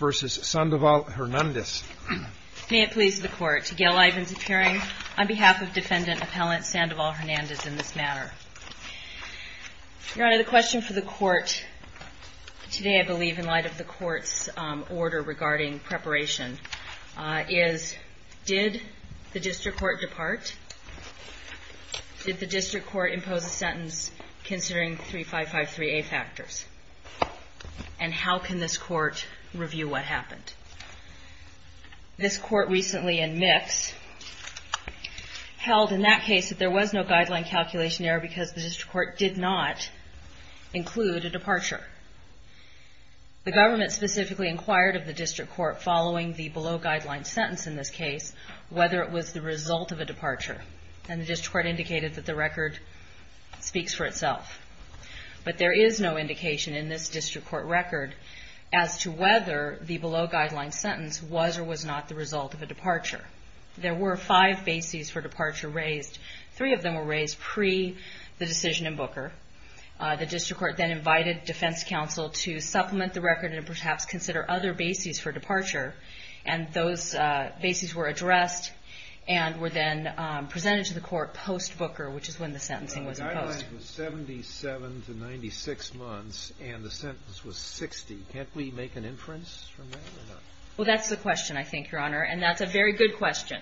May it please the Court, Gail Ivins appearing on behalf of Defendant Appellant Sandoval-Hernandez in this matter. Your Honor, the question for the Court today, I believe in light of the Court's order regarding preparation, is did the District Court depart? Did the District Court impose a sentence considering 3553A factors? And how can this Court review what happened? This Court recently in Mix held in that case that there was no guideline calculation error because the District Court did not include a departure. The Government specifically inquired of the District Court following the below-guideline sentence in this case whether it was the result of a departure. And the District Court indicated that the record speaks for itself. But there is no indication in this District Court record as to whether the below-guideline sentence was or was not the result of a departure. There were five bases for departure raised. Three of them were raised pre the decision in Booker. The District Court then invited Defense Counsel to supplement the record and perhaps consider other bases for departure. And those bases were addressed and were then presented to the Court post-Booker, which is when the sentencing was imposed. The guideline was 77 to 96 months, and the sentence was 60. Can't we make an inference from that? Well, that's the question, I think, Your Honor. And that's a very good question.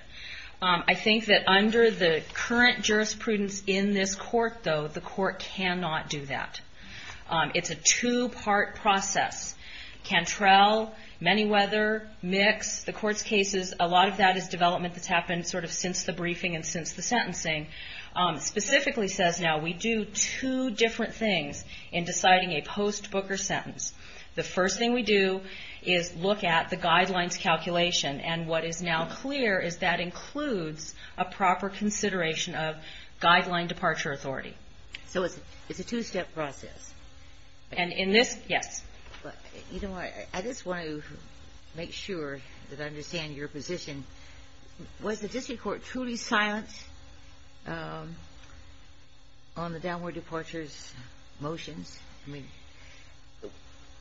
I think that under the current jurisprudence in this Court, though, the Court cannot do that. It's a two-part process. Cantrell, Manyweather, Mix, the Court's cases, a lot of that is development that's happened sort of since the briefing and since the sentencing. Specifically says now we do two different things in deciding a post-Booker sentence. The first thing we do is look at the guidelines calculation, and what is now clear is that includes a proper consideration of guideline departure authority. So it's a two-step process? And in this, yes. You know what? I just want to make sure that I understand your position. Was the District Court truly silent on the downward departure's motions? I mean,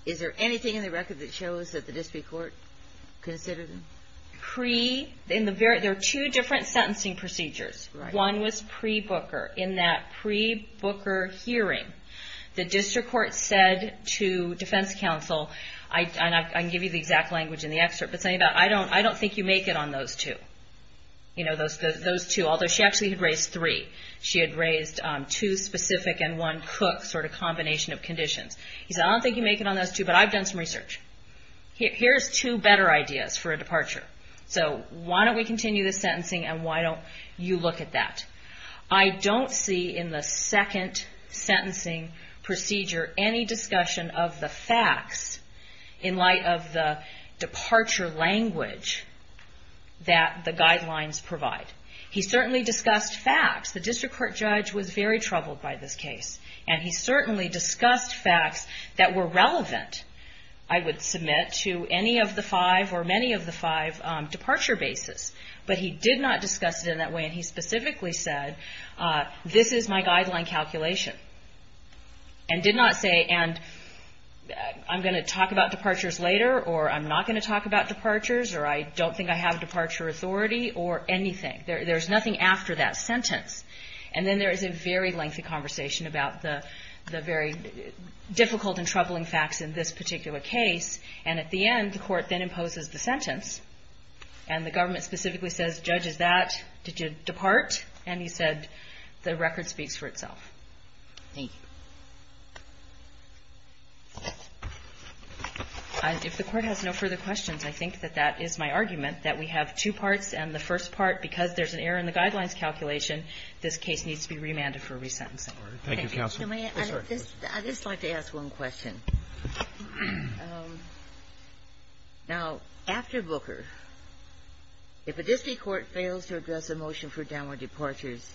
is there anything in the record that shows that the District Court considered them? There are two different sentencing procedures. One was pre-Booker. In that pre-Booker hearing, the District Court said to Defense Counsel, and I can give you the exact language in the excerpt, but something about, I don't think you make it on those two. You know, those two, although she actually had raised three. She had raised two specific and one Cook sort of combination of conditions. He said, I don't think you make it on those two, but I've done some research. Here's two better ideas for a departure. So why don't we continue the sentencing, and why don't you look at that? I don't see in the second sentencing procedure any discussion of the facts in light of the departure language that the guidelines provide. He certainly discussed facts. The District Court judge was very troubled by this case, and he certainly discussed facts that were relevant, I would submit, to any of the five or many of the five departure bases. But he did not discuss it in that way, and he specifically said, this is my guideline calculation, and did not say, and I'm going to talk about departures later, or I'm not going to talk about departures, or I don't think I have departure authority, or anything. There's nothing after that sentence. And then there is a very lengthy conversation about the very difficult and troubling facts in this particular case, and at the end, the court then imposes the sentence, and specifically says, judge, is that, did you depart? And he said, the record speaks for itself. Thank you. If the Court has no further questions, I think that that is my argument, that we have two parts, and the first part, because there's an error in the guidelines calculation, this case needs to be remanded for resentencing. Thank you, Counsel. I'd just like to ask one question. Now, after Booker, if a district court fails to address a motion for downward departures,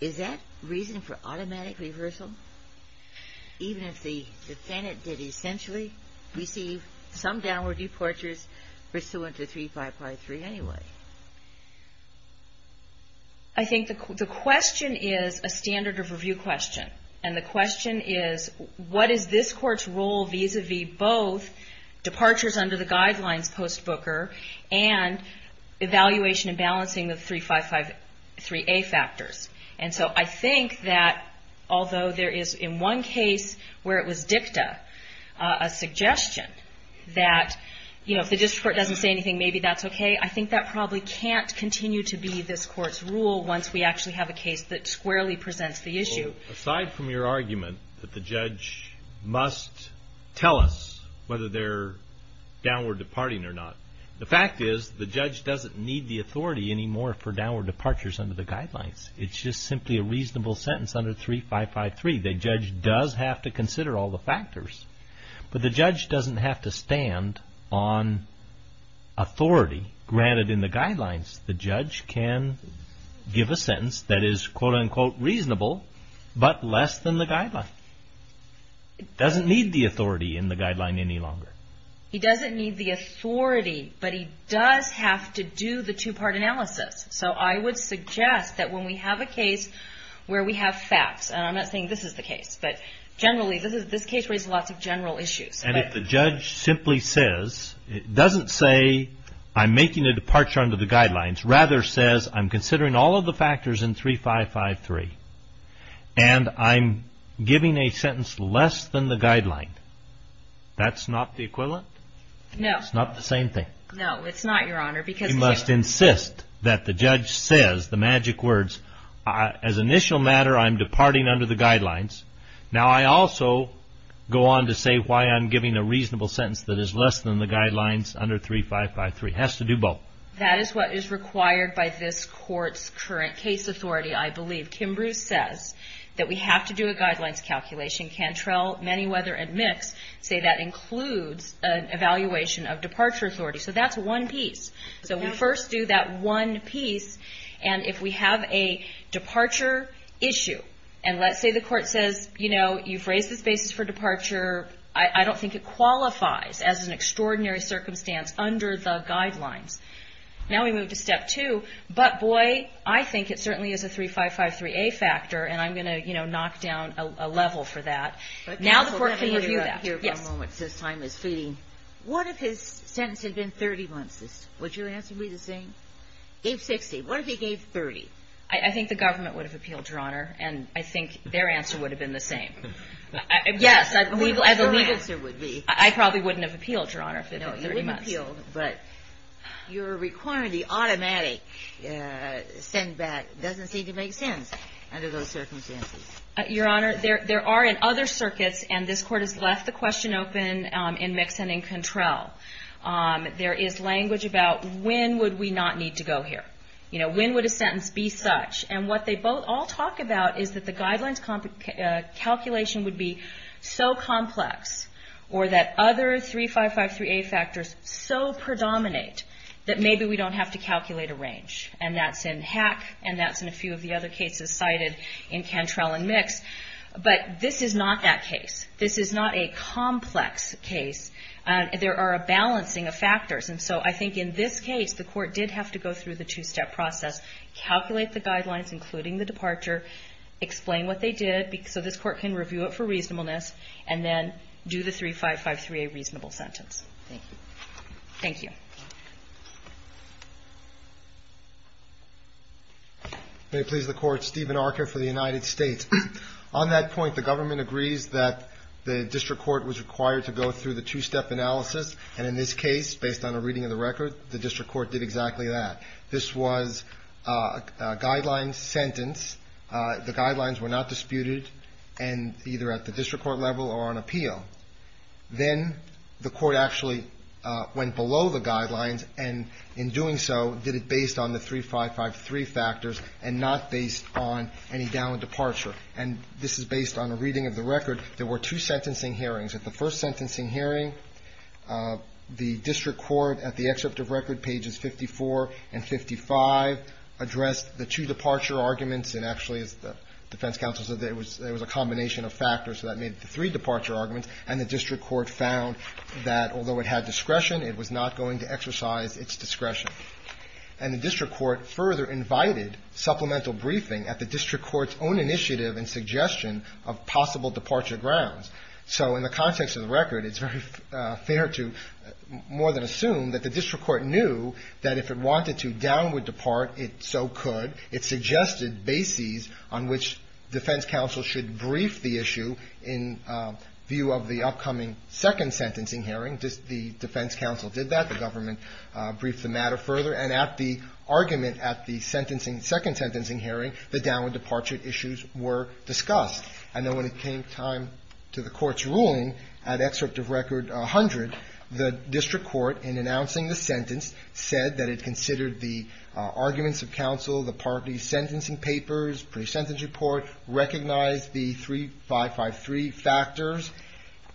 is that reason for automatic reversal? Even if the defendant did essentially receive some downward departures pursuant to 3553 anyway? I think the question is a standard of review question, and the question is, what is this Court's role vis-à-vis both departures under the guidelines post-Booker, and evaluation and balancing the 3553A factors? And so I think that, although there is, in one case where it was dicta, a probably can't continue to be this Court's rule once we actually have a case that squarely presents the issue. Well, aside from your argument that the judge must tell us whether they're downward departing or not, the fact is, the judge doesn't need the authority anymore for downward departures under the guidelines. It's just simply a reasonable sentence under 3553. The judge does have to give a sentence that is, quote-unquote, reasonable, but less than the guideline. He doesn't need the authority in the guideline any longer. He doesn't need the authority, but he does have to do the two-part analysis. So I would suggest that when we have a case where we have facts, and I'm not saying this is the case, but generally, this case raises lots of general issues. And if the judge simply says, it doesn't say, I'm making a departure under the guidelines, rather says, I'm considering all of the factors in 3553, and I'm giving a sentence less than the guideline, that's not the equivalent? No. It's not the same thing? No, it's not, Your Honor, because- that the judge says, the magic words, as an initial matter, I'm departing under the guidelines. Now I also go on to say why I'm giving a reasonable sentence that is less than the guidelines under 3553. It has to do both. That is what is required by this Court's current case authority, I believe. Kim Bruce says that we have to do a guidelines calculation. Cantrell, Manyweather, and Mix say that includes an evaluation of departure authority. So that's one piece. So we first do that one piece, and if we have a departure issue, and let's say the Court says, you know, you've raised this basis for departure, I don't think it qualifies as an extraordinary circumstance under the guidelines. Now we move to step two, but boy, I think it certainly is a 3553A factor, and I'm going to, you know, knock down a Now the Court can review that. Let me interrupt here for a moment, since time is fleeting. What if his sentence had been 30 months? Would your answer be the same? Gave 60. What if he gave 30? I think the government would have appealed, Your Honor, and I think their answer would have been the same. Yes, I believe- What would your answer would be? I probably wouldn't have appealed, Your Honor, if it had been 30 months. No, you would have appealed, but your requirement, the automatic send-back, doesn't seem to make sense under those circumstances. Your Honor, there are in other circuits, and this Court has left the question open in Mix and in Cantrell, there is language about when would we not need to go here? You know, when would a sentence be such? And what they both all talk about is that the guidelines calculation would be so complex, or that other 3553A factors so predominate, that maybe we don't have to calculate a range. And that's in Hack, and that's in a few of the other cases cited in Cantrell and Mix. But this is not that case. This is not a complex case. There are a balancing of factors. And so I think in this case, the Court did have to go through the two-step process, calculate the guidelines, including the departure, explain what they did, so this Court can review it for reasonableness, and then do the 3553A reasonable sentence. Thank you. Thank you. May it please the Court, Stephen Archer for the United States. On that point, the government agrees that the district court was required to go through the two-step analysis, and in this case, based on a reading of the record, the district court did exactly that. This was a guideline sentence. The guidelines were not disputed, and either at the district court level or on appeal. Then the Court actually went below the guidelines, and in doing so, did it based on the 3553 factors and not based on any downward departure. And this is based on a reading of the record. There were two sentencing hearings. At the first sentencing hearing, the district court, at the excerpt of record pages 54 and 55, addressed the two departure arguments, and actually, as the defense counsel said, there was a combination of factors, so that made it the three departure arguments. And the district court found that although it had discretion, it was not going to exercise its discretion. And the district court further invited supplemental briefing at the district court's own initiative and suggestion of possible departure grounds. So in the context of the record, it's very fair to more than assume that the district court knew that if it wanted to downward depart, it so could. It suggested bases on which defense counsel should brief the issue in view of the upcoming second sentencing hearing. The defense counsel did that. The government briefed the matter further. And at the argument at the sentencing, second sentencing hearing, the downward departure issues were discussed. And then when it came time to the Court's ruling, at excerpt of record 100, the district court, in announcing the sentence, said that it considered the arguments of counsel, the parties' sentencing papers, pre-sentence report, recognized the 3553 factors,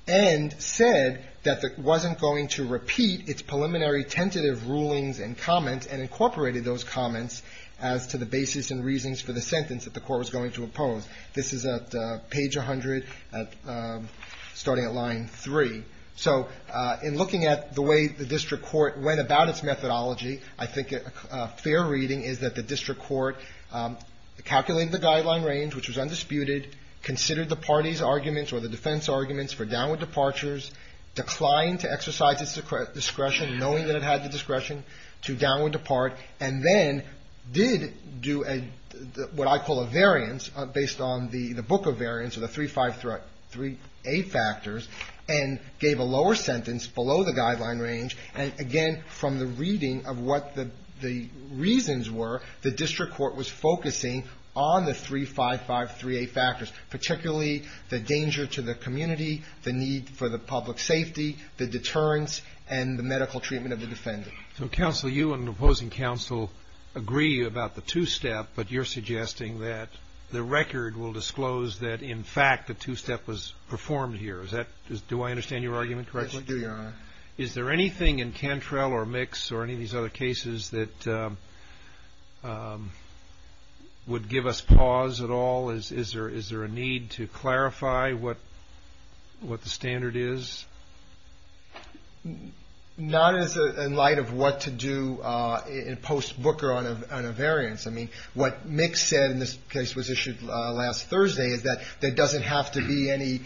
and said that it wasn't going to repeat its preliminary tentative rulings and comments and incorporated those comments as to the basis and reasons for the sentence that the Court was going to oppose. This is at page 100, starting at line 3. So in looking at the way the district court went about its methodology, I think a fair reading is that the district court calculated the guideline range, which was undisputed, considered the parties' arguments or the defense arguments for downward departures, declined to exercise its discretion, knowing that it had the discretion to downward depart, and then did do what I call a variance based on the book of variance or the 353A factors. And gave a lower sentence below the guideline range. And, again, from the reading of what the reasons were, the district court was focusing on the 3553A factors, particularly the danger to the community, the need for the public safety, the deterrence, and the medical treatment of the defendant. So, counsel, you and an opposing counsel agree about the two-step, but you're suggesting that the record will disclose that, in fact, the two-step was performed here. Do I understand your argument correctly? I do, Your Honor. Is there anything in Cantrell or Mix or any of these other cases that would give us pause at all? Is there a need to clarify what the standard is? Not in light of what to do in post-Booker on a variance. I mean, what Mix said in this case was issued last Thursday is that there doesn't have to be any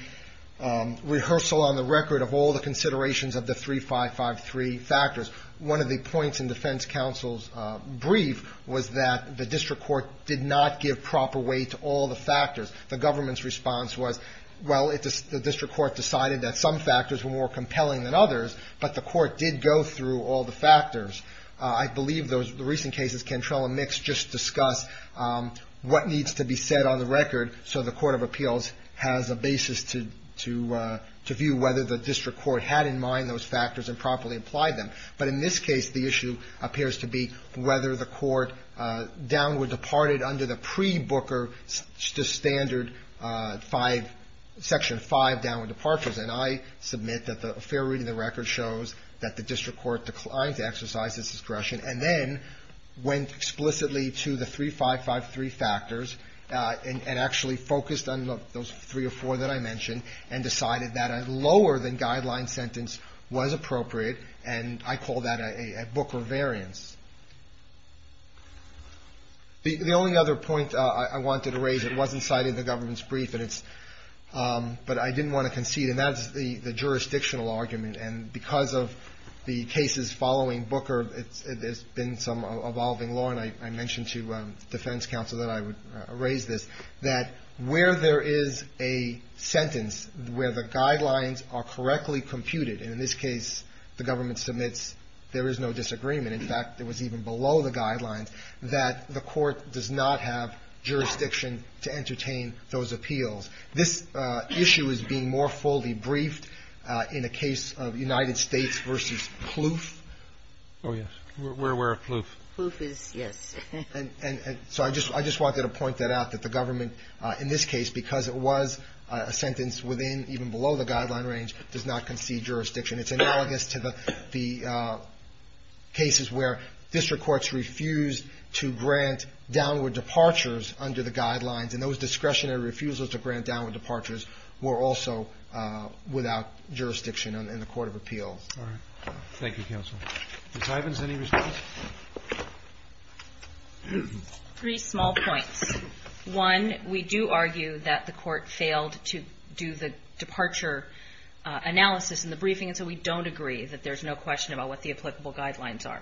rehearsal on the record of all the considerations of the 3553 factors. One of the points in defense counsel's brief was that the district court did not give proper weight to all the factors. The government's response was, well, the district court decided that some factors were more compelling than others, I believe those recent cases, Cantrell and Mix, just discuss what needs to be said on the record so the court of appeals has a basis to view whether the district court had in mind those factors and properly applied them. But in this case, the issue appears to be whether the court downward departed under the pre-Booker standard 5, Section 5 downward departures. And I submit that a fair reading of the record shows that the district court declined to exercise this discretion and then went explicitly to the 3553 factors and actually focused on those three or four that I mentioned and decided that a lower than guideline sentence was appropriate, and I call that a Booker variance. The only other point I wanted to raise, it wasn't cited in the government's brief, but it's – but I didn't want to concede, and that's the jurisdictional argument. And because of the cases following Booker, there's been some evolving law, and I mentioned to defense counsel that I would raise this, that where there is a sentence where the guidelines are correctly computed, and in this case the government submits there is no disagreement, in fact, it was even below the guidelines, that the court does not have jurisdiction to entertain those appeals. This issue is being more fully briefed in a case of United States v. Plouffe. Roberts. Oh, yes. We're aware of Plouffe. Plouffe is, yes. And so I just wanted to point that out, that the government in this case, because it was a sentence within, even below the guideline range, does not concede jurisdiction. It's analogous to the cases where district courts refused to grant downward departures under the guidelines, and those discretionary refusals to grant downward departures were also without jurisdiction in the court of appeals. All right. Thank you, counsel. Ms. Ivins, any response? Three small points. One, we do argue that the court failed to do the departure analysis in the briefing, and so we don't agree that there's no question about what the applicable guidelines are.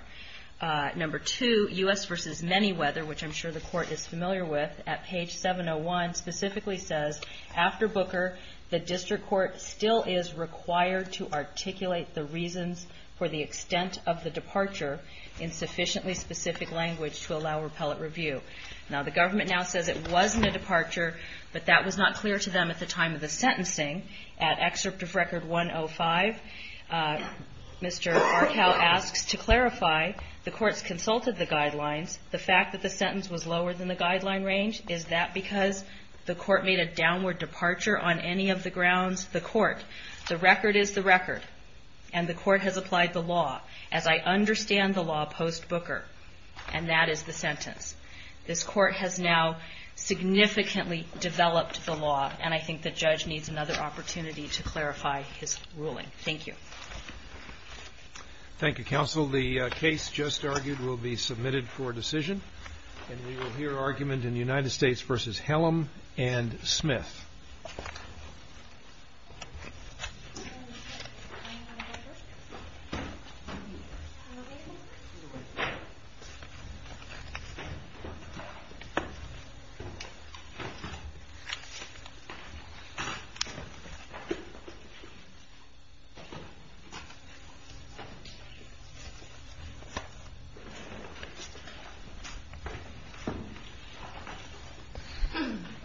Number two, U.S. v. Manyweather, which I'm sure the court is familiar with, at page 701, specifically says, after Booker, the district court still is required to articulate the reasons for the extent of the departure in sufficiently specific language to allow repellent review. Now, the government now says it wasn't a departure, but that was not clear to them at the time at excerpt of record 105, Mr. Arkow asks to clarify the court's consulted the guidelines. The fact that the sentence was lower than the guideline range, is that because the court made a downward departure on any of the grounds? The court. The record is the record, and the court has applied the law. As I understand the law post Booker, and that is the sentence. This court has now significantly developed the law, and I think the judge needs another opportunity to clarify his ruling. Thank you. Thank you, counsel. The case just argued will be submitted for decision, and we will hear argument in United States v. Hellam and Smith. Thank you.